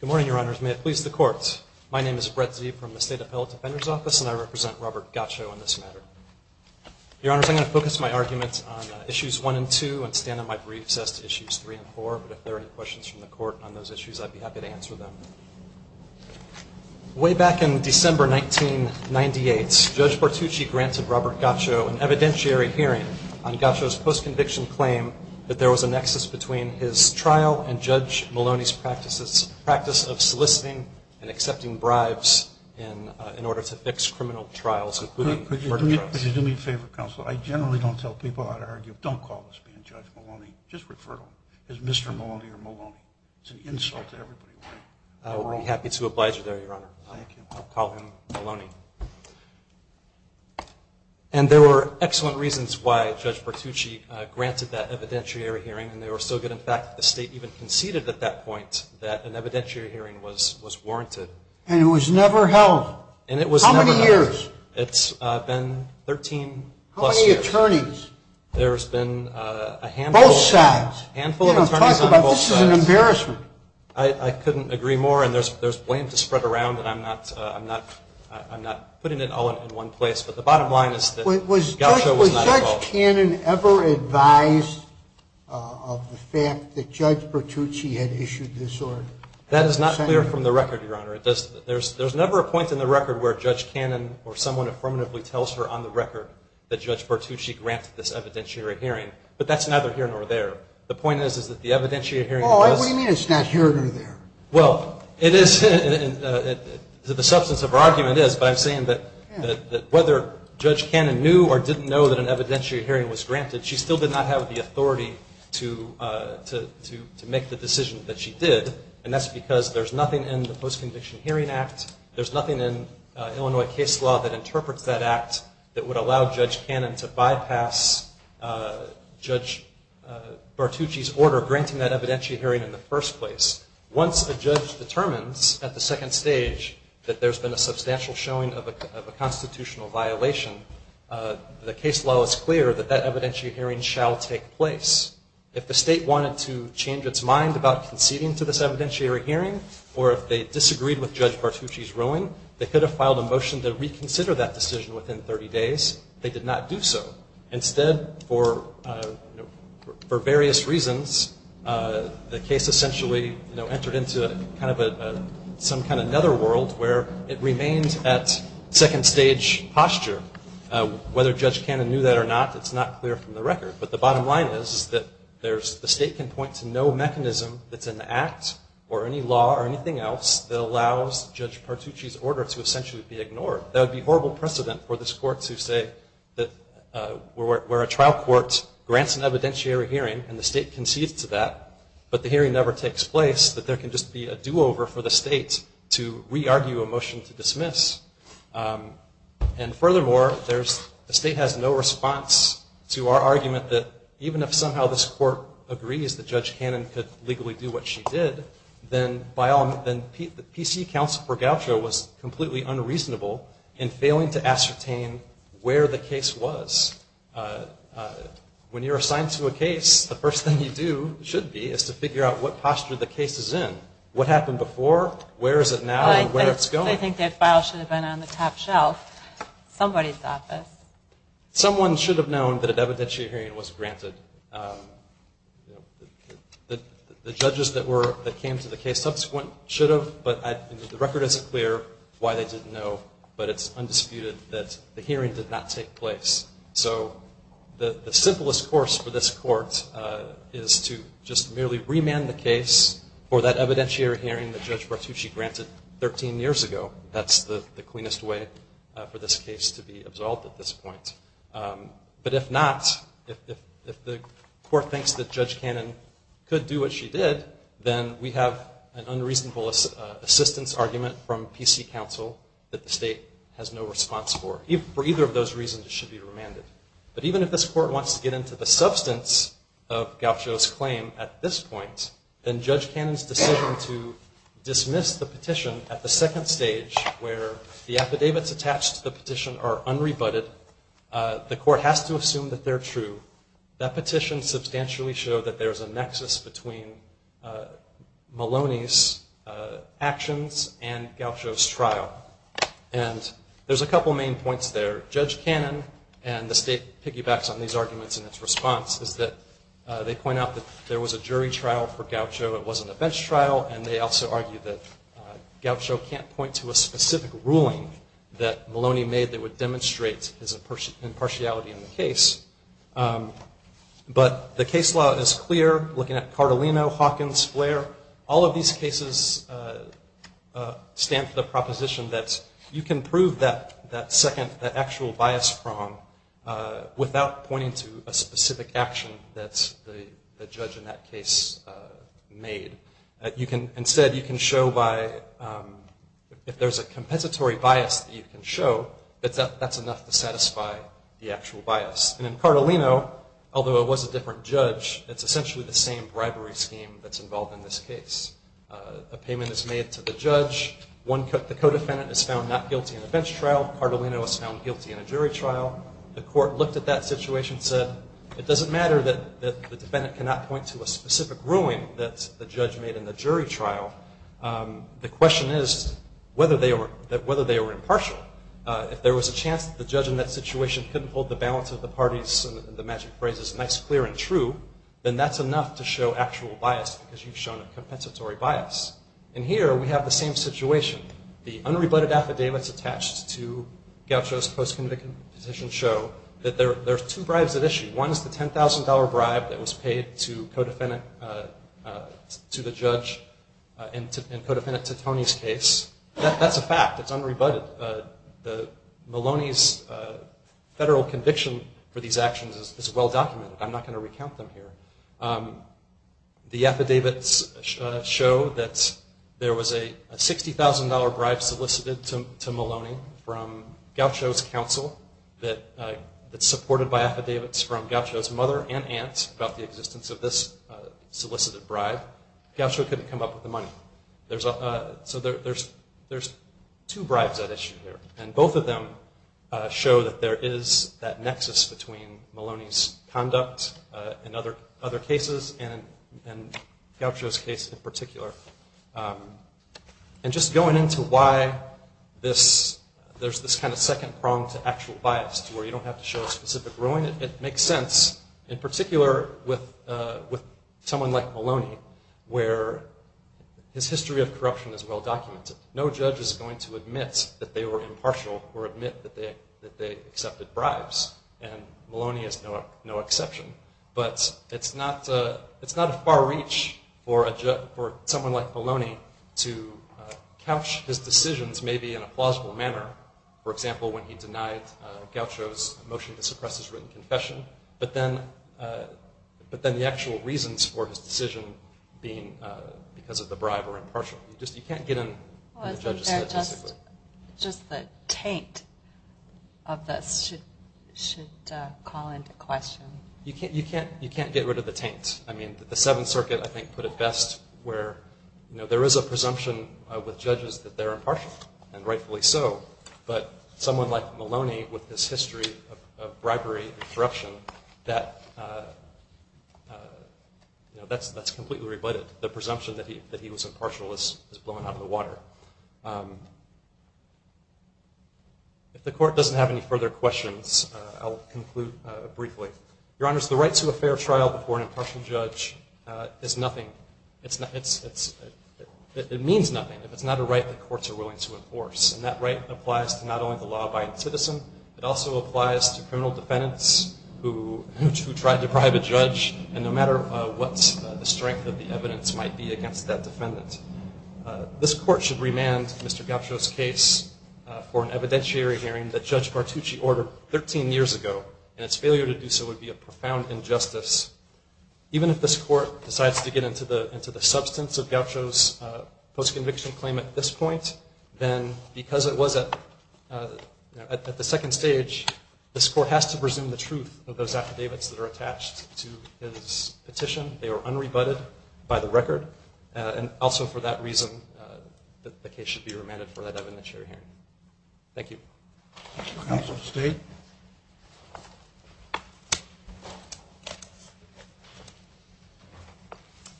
Good morning, Your Honors. May it please the courts, my name is Brett Zee from the State Appellate Defender's Office and I represent Robert Gacho in this matter. Your Honors, I'm going to focus my arguments on Issues 1 and 2 and stand on my briefs as to Issues 3 and 4, but if there are any questions from the court on those issues, I'd be happy to answer them. Way back in December 1998, Judge Bartucci granted Robert Gacho an evidentiary hearing on Gacho's post-conviction claim that there was a nexus between his trial and Judge Maloney's practice of soliciting and accepting bribes in order to fix criminal trials, including murder trials. And there were excellent reasons why Judge Bartucci granted that evidentiary hearing and they were so good in fact that the State even conceded at that point that an evidentiary hearing was warranted. And it was never held? How many years? It's been 13 plus years. How many attorneys? There's been a handful of attorneys on both sides. This is an embarrassment. I couldn't agree more and there's blame to spread around and I'm not putting it all in one place, but the bottom line is that Gacho was not at fault. Was Judge Cannon ever advised of the fact that Judge Bartucci had issued this order? That is not clear from the record, Your Honor. There's never a point in the record where Judge Cannon or someone affirmatively tells her on the record that Judge Bartucci granted this evidentiary hearing, but that's neither here nor there. The point is, is that the evidentiary hearing was. What do you mean it's not here nor there? Well, the substance of her argument is, but I'm saying that whether Judge Cannon knew or didn't know that an evidentiary hearing was granted, she still did not have the authority to make the decision that she did. And that's because there's nothing in the Post-Conviction Hearing Act, there's nothing in Illinois case law that interprets that act that would allow Judge Cannon to bypass Judge Bartucci's order granting that evidentiary hearing in the first place. Once a judge determines at the second stage that there's been a substantial showing of a constitutional violation, the case law is clear that that evidentiary hearing shall take place. If the state wanted to change its mind about conceding to this evidentiary hearing, or if they disagreed with Judge Bartucci's ruling, they could have filed a motion to reconsider that decision within 30 days. They did not do so. Instead, for various reasons, the case essentially entered into some kind of netherworld where it remained at second stage posture. Whether Judge Cannon knew that or not, it's not clear from the record. But the bottom line is that the state can point to no mechanism that's in the act or any law or anything else that allows Judge Bartucci's order to essentially be ignored. That would be horrible precedent for this court to say that where a trial court grants an evidentiary hearing and the state concedes to that, but the hearing never takes place, that there can just be a do-over for the state to re-argue a motion to dismiss. And furthermore, the state has no response to our argument that even if somehow this court agrees that Judge Cannon could legally do what she did, then the PC counsel for Goucho was completely unreasonable in failing to ascertain where the case was. When you're assigned to a case, the first thing you do, should be, is to figure out what posture the case is in. What happened before, where is it now, and where it's going. I think their file should have been on the top shelf, somebody's office. Someone should have known that an evidentiary hearing was granted. The judges that came to the case subsequent should have, but the record isn't clear why they didn't know, but it's undisputed that the hearing did not take place. So the simplest course for this court is to just merely remand the case for that evidentiary hearing that Judge Bartucci granted 13 years ago. That's the cleanest way for this case to be absolved at this point. But if not, if the court thinks that Judge Cannon could do what she did, then we have an unreasonable assistance argument from PC counsel that the state has no response for. For either of those reasons, it should be remanded. But even if this court wants to get into the substance of Gaucho's claim at this point, then Judge Cannon's decision to dismiss the petition at the second stage where the affidavits attached to the petition are unrebutted, the court has to assume that they're true. That petition substantially showed that there's a nexus between Maloney's actions and Gaucho's trial. And there's a couple main points there. Judge Cannon and the state piggybacks on these arguments in its response is that they point out that there was a jury trial for Gaucho, it wasn't a bench trial, and they also argue that Gaucho can't point to a specific ruling that Maloney made that would demonstrate his impartiality in the case. But the case law is clear, looking at Cartolino, Hawkins, Flair, all of these cases stand for the proposition that you can prove that actual bias from without pointing to a specific action that the judge in that case made. Instead, you can show by, if there's a compensatory bias that you can show, that's enough to prove the same bribery scheme that's involved in this case. A payment is made to the judge, the co-defendant is found not guilty in a bench trial, Cartolino is found guilty in a jury trial, the court looked at that situation and said, it doesn't matter that the defendant cannot point to a specific ruling that the judge made in the jury trial, the question is whether they were impartial. If there was a chance that the judge in that situation couldn't hold the balance of the parties and the magic phrases nice, clear, and true, then that's enough to show actual bias because you've shown a compensatory bias. And here, we have the same situation. The unrebutted affidavits attached to Gaucho's post-conviction petition show that there are two bribes at issue. One is the $10,000 bribe that was paid to the judge in co-defendant Titone's case. That's a fact. It's unrebutted. Maloney's federal conviction for these actions is well documented. I'm not going to recount them here. The affidavits show that there was a $60,000 bribe solicited to Maloney from Gaucho's counsel that's supported by affidavits from Gaucho's mother and aunt about the existence of this solicited bribe. Gaucho couldn't come up with the money. So there's two bribes at issue here. And both of them show that there is that nexus between Maloney's conduct in other cases and Gaucho's case in particular. And just going into why there's this kind of second prong to actual bias to where you don't have to show a specific ruling, it makes sense in particular with someone like Maloney where his history of corruption is well documented. No judge is going to admit that they were impartial or admit that they accepted bribes. And Maloney is no exception. But it's not a far reach for someone like Maloney to judge his decisions maybe in a plausible manner. For example, when he denied Gaucho's motion to suppress his written confession. But then the actual reasons for his decision being because of the bribe or impartial. You can't get in the judge's head. Just the taint of this should call into question. You can't get rid of the taint. I mean, the Seventh Circuit I think put it best where there is a presumption that they're impartial, and rightfully so. But someone like Maloney with his history of bribery and corruption, that's completely rebutted. The presumption that he was impartial is blown out of the water. If the court doesn't have any further questions, I'll conclude briefly. Your Honors, the right to a fair trial before an impartial judge is nothing. It means nothing if it's not a right that courts are willing to enforce. And that right applies to not only the law-abiding citizen, it also applies to criminal defendants who try to bribe a judge, and no matter what the strength of the evidence might be against that defendant. This court should remand Mr. Gaucho's case for an evidentiary hearing that Judge Bartucci ordered 13 years ago, and its failure to do so would be a profound injustice. Even if this court decides to get into the substance of Gaucho's post-conviction claim at this point, then because it was at the second stage, this court has to presume the truth of those affidavits that are attached to his petition. They are unrebutted by the record, and also for that reason, the case should be remanded for an evidentiary hearing. Thank you. Good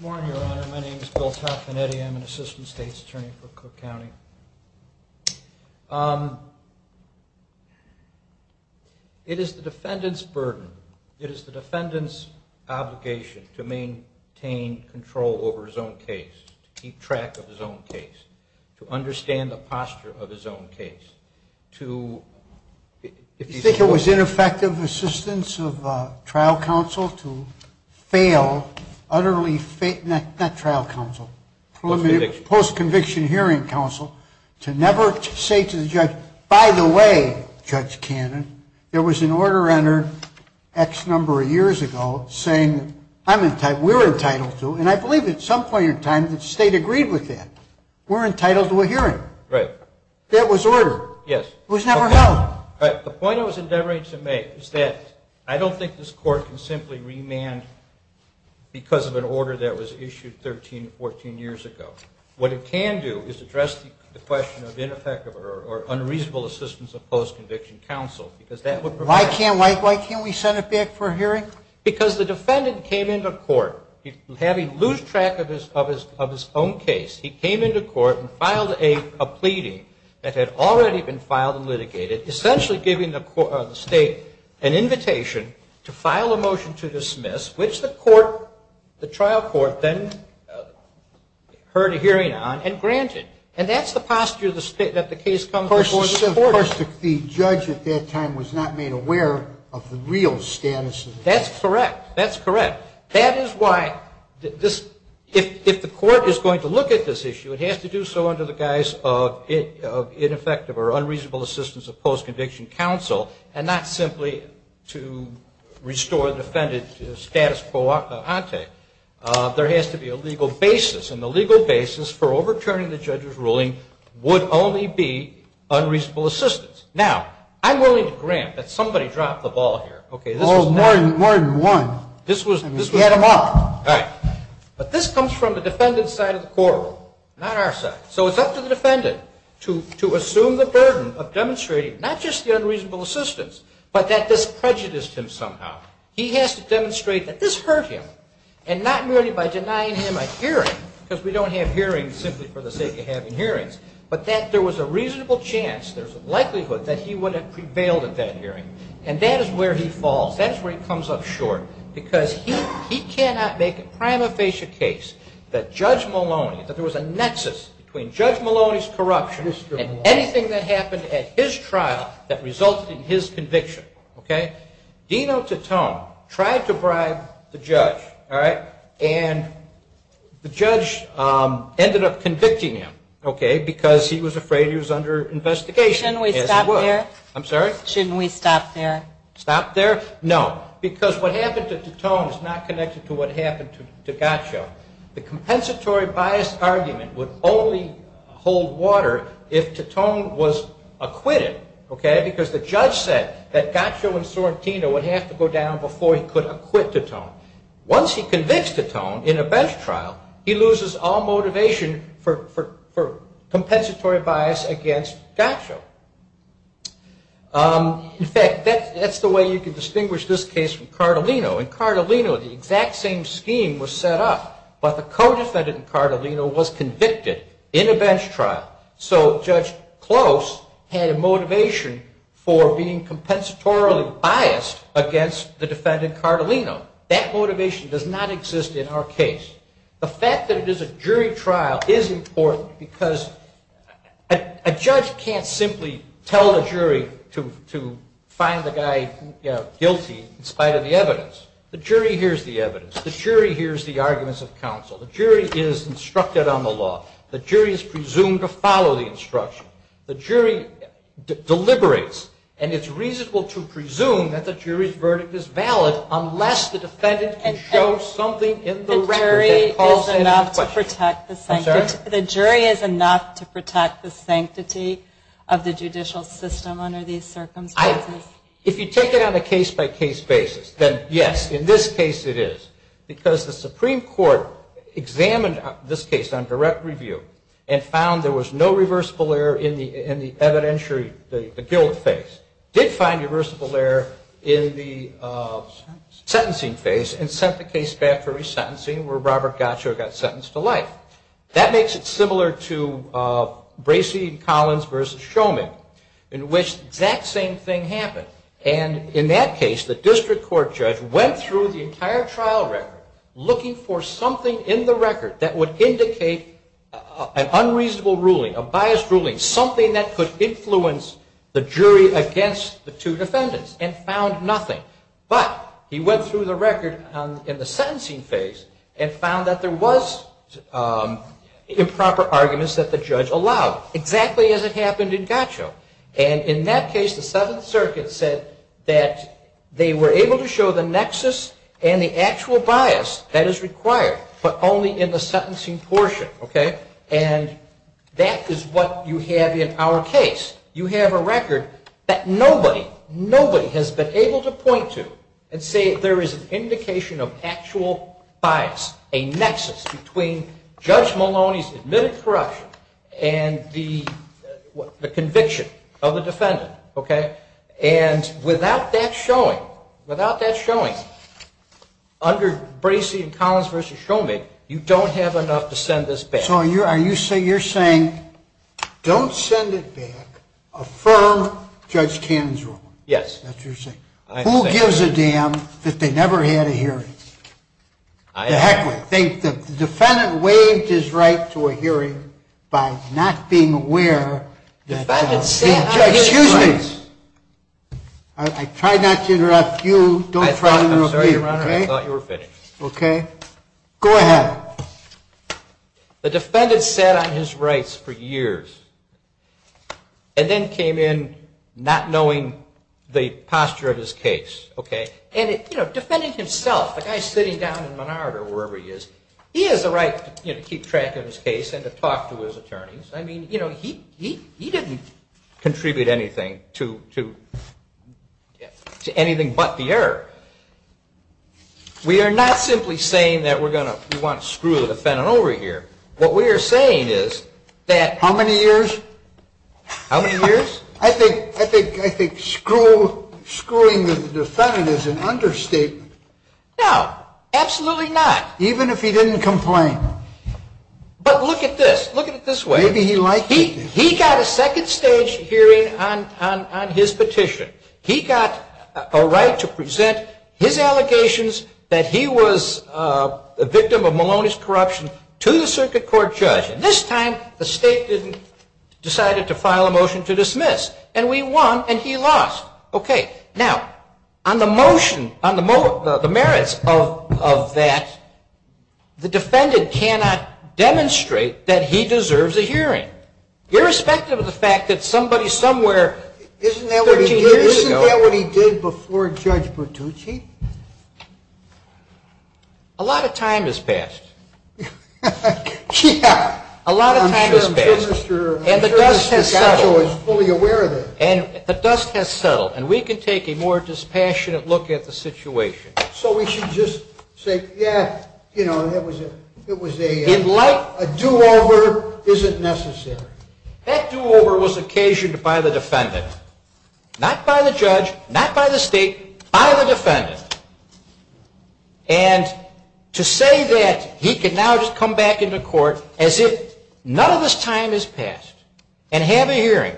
morning, Your Honor. My name is Bill Taffanetti. I'm an Assistant State's Attorney for Cook County. It is the defendant's burden, it is the defendant's obligation to maintain control over his own case, to keep track of his own case, to... You think it was ineffective assistance of trial counsel to fail, utterly fail, not trial counsel, post-conviction hearing counsel, to never say to the judge, by the way, Judge Cannon, there was an order entered X number of years ago saying, we're entitled to, and I believe at some point in time the state agreed with that. We're entitled to a hearing. Right. That was ordered. Yes. It was never held. The point I was endeavoring to make is that I don't think this court can simply remand because of an order that was issued 13, 14 years ago. What it can do is address the question of ineffective or unreasonable assistance of post-conviction counsel, Why can't we send it back for a hearing? Because the defendant came into court, having lost track of his own case, he came into court and filed a pleading that had already been filed and litigated, essentially giving the state an invitation to file a motion to dismiss, which the trial court then heard a hearing on and granted. And that's the posture that the case comes before the court. Of course, the judge at that time was not made aware of the real status of the case. That's correct. That's correct. That is why if the court is going to look at this issue, it has to do so under the guise of ineffective or unreasonable assistance of post-conviction counsel and not simply to restore the defendant's status quo ante. There has to be a legal basis, and the legal basis for overturning the judge's ruling would only be unreasonable assistance. Now, I'm willing to grant that somebody dropped the ball here. More than one. He had them up. But this comes from the defendant's side of the courtroom, not our side. So it's up to the defendant to assume the burden of demonstrating not just the unreasonable assistance, but that this prejudiced him somehow. He has to demonstrate that this hurt him, and not merely by denying him a hearing, because we don't have hearings simply for the sake of having hearings, but that there was a reasonable chance, there's a likelihood that he would have prevailed at that hearing. And that is where he falls. That's where he comes up short, because he cannot make a prima facie case that Judge Maloney, that there was a nexus between Judge Maloney's corruption and anything that happened at his trial that resulted in his conviction. Dino Titone tried to bribe the judge, and the judge ended up convicting him because he was afraid he was under investigation. Shouldn't we stop there? Stop there? No. Because what happened to Titone is not connected to what happened to Gaccio. The compensatory biased argument would only hold water if Titone was acquitted, because the judge said that Gaccio and Sorrentino would have to go down before he could acquit Titone. Once he convicts Titone in a bench trial, he loses all motivation for compensatory bias against Gaccio. In fact, that's the way you can distinguish this case from Cardolino. In Cardolino, the exact same scheme was set up, but the co-defendant in Cardolino was convicted in a exist in our case. The fact that it is a jury trial is important because a judge can't simply tell the jury to find the guy guilty in spite of the evidence. The jury hears the evidence. The jury hears the arguments of counsel. The jury is instructed on the law. The jury is presumed to follow the instruction. The jury deliberates, and it's reasonable to presume that the jury's verdict is valid unless the defendant can show something in the record that calls to any question. The jury is enough to protect the sanctity of the judicial system under these circumstances. If you take it on a case-by-case basis, then yes, in this case it is, because the Supreme Court examined this case on direct review and found there was no reversible error in the evidentiary, the guilt phase. It did find reversible error in the sentencing phase and sent the case back for resentencing where Robert Gaccio got sentenced to life. That makes it similar to Bracey and Collins versus Shulman, in which the exact same thing happened. And in that case, the district court judge went through the entire trial record looking for something in the record that would indicate an unreasonable ruling, a biased ruling, something that could influence the jury against the two defendants and found nothing. But he went through the record in the sentencing phase and found that there was improper arguments that the judge allowed, exactly as it happened in Gaccio. And in that case, the Seventh Circuit said that they were able to show the nexus and the actual bias that is required, but only in the sentencing portion, okay? And that is what you have in our case. You have a record that nobody, nobody has been able to point to and say there is an indication of actual bias, a nexus between Judge Maloney's admitted corruption and the conviction of the defendant, okay? And without that showing, without that showing, you have a record that nobody has been able to point to and say there is an indication of actual bias, a nexus between the two defendants and the conviction of the defendant, okay? And without that showing, you have a record that nobody has been able to point to and say there is an indication of actual bias, a nexus between the two defendants. The defendant sat on his rights for years and then came in not knowing the posture of his case, okay? And defending himself, the guy sitting down in Menard or wherever he is, he has the right to keep track of his case and to talk to his attorneys. I mean, he didn't contribute anything to anything but the error. We are not simply saying that we're going to, we want to screw the defendant over here. What we are saying is that... How many years? How many years? I think, I think, I think screwing the defendant is an understatement. No, absolutely not. Even if he didn't complain. But look at this. Look at it this way. Maybe he liked it. He got a second stage hearing on his petition. He got a right to present his allegations that he was a victim of Maloney's corruption to the circuit court judge. And this time, the state didn't, decided to file a motion to dismiss. And we won and he lost. Okay. Now, on the motion, on the merits of that, the defendant cannot demonstrate that he deserves a hearing. Irrespective of the fact that somebody somewhere 13 years ago... Isn't that what he did before Judge Bertucci? A lot of time has passed. Yeah. A lot of time has passed. I'm sure Mr. Picasso is fully aware of that. And the dust has settled. And we can take a more dispassionate look at the situation. So we should just say, yeah, you know, it was a do-over. Is it necessary? That do-over was occasioned by the defendant. Not by the judge. Not by the state. By the defendant. And to say that he can now just come back into court as if none of this time has passed and have a hearing.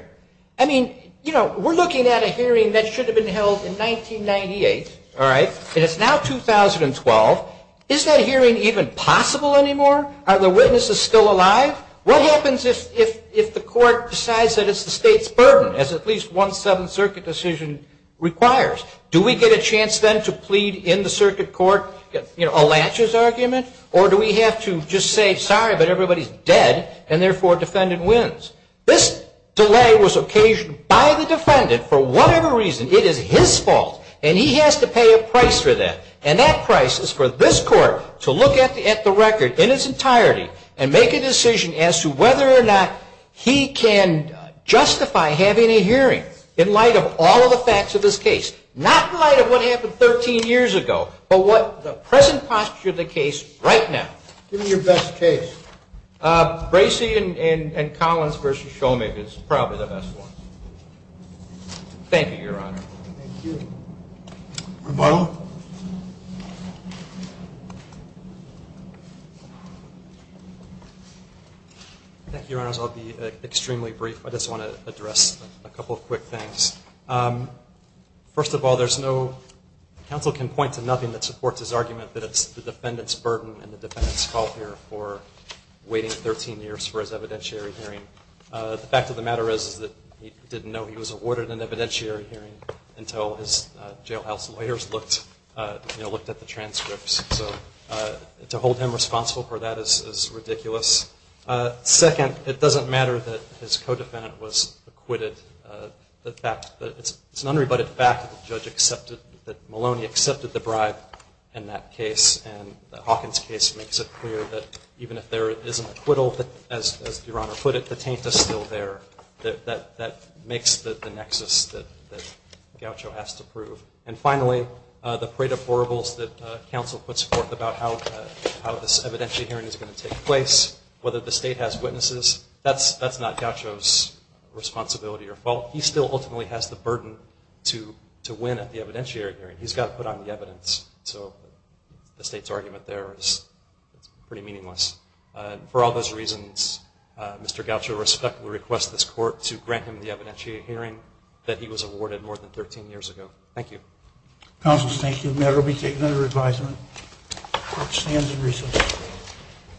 I mean, you know, we're looking at a hearing that should have been held in 1998. All right. And it's now 2012. Is that hearing even possible anymore? Are the witnesses still alive? What happens if the court decides that it's the state's burden, as at least one Seventh Circuit decision requires? Do we get a chance then to plead in the circuit court, you know, a latches argument? Or do we have to just say, sorry, but everybody's dead. And therefore, defendant wins. This delay was occasioned by the defendant for whatever reason. It is his fault. And he has to pay a price for that. And that price is for this court to look at the record in its entirety. And make a decision as to whether or not he can justify having a hearing in light of all of the facts of this case. Not in light of what happened 13 years ago. But what the present posture of the case right now. Give me your best case. Bracey and Collins versus Shomig is probably the best one. Thank you, Your Honor. Thank you. Rebuttal? Thank you, Your Honors. I'll be extremely brief. I just want to address a couple of quick things. First of all, there's no, counsel can point to nothing that supports his argument that it's the defendant's burden and the defendant's fault here for waiting 13 years for his evidentiary hearing. The fact of the matter is that he didn't know he was awarded an evidentiary hearing until his jailhouse lawyers looked at the transcripts. So to hold him responsible for that is ridiculous. Second, it doesn't matter that his co-defendant was acquitted. It's an unrebutted fact that Maloney accepted the bribe in that case. And Hawkins' case makes it clear that even if there is an acquittal, as Your Honor put it, the taint is still there. That makes the nexus that Gaucho has to prove. And finally, the parade of horribles that counsel puts forth about how this evidentiary hearing is going to take place, whether the state has witnesses, that's not Gaucho's responsibility or fault. He still ultimately has the burden to win at the evidentiary hearing. He's got to put on the evidence. So the state's argument there is pretty meaningless. For all those reasons, Mr. Gaucho respectfully requests this Court to grant him the evidentiary hearing that he was awarded more than 13 years ago. Thank you. Counsel, thank you. The matter will be taken under advisement. The Court stands in recess.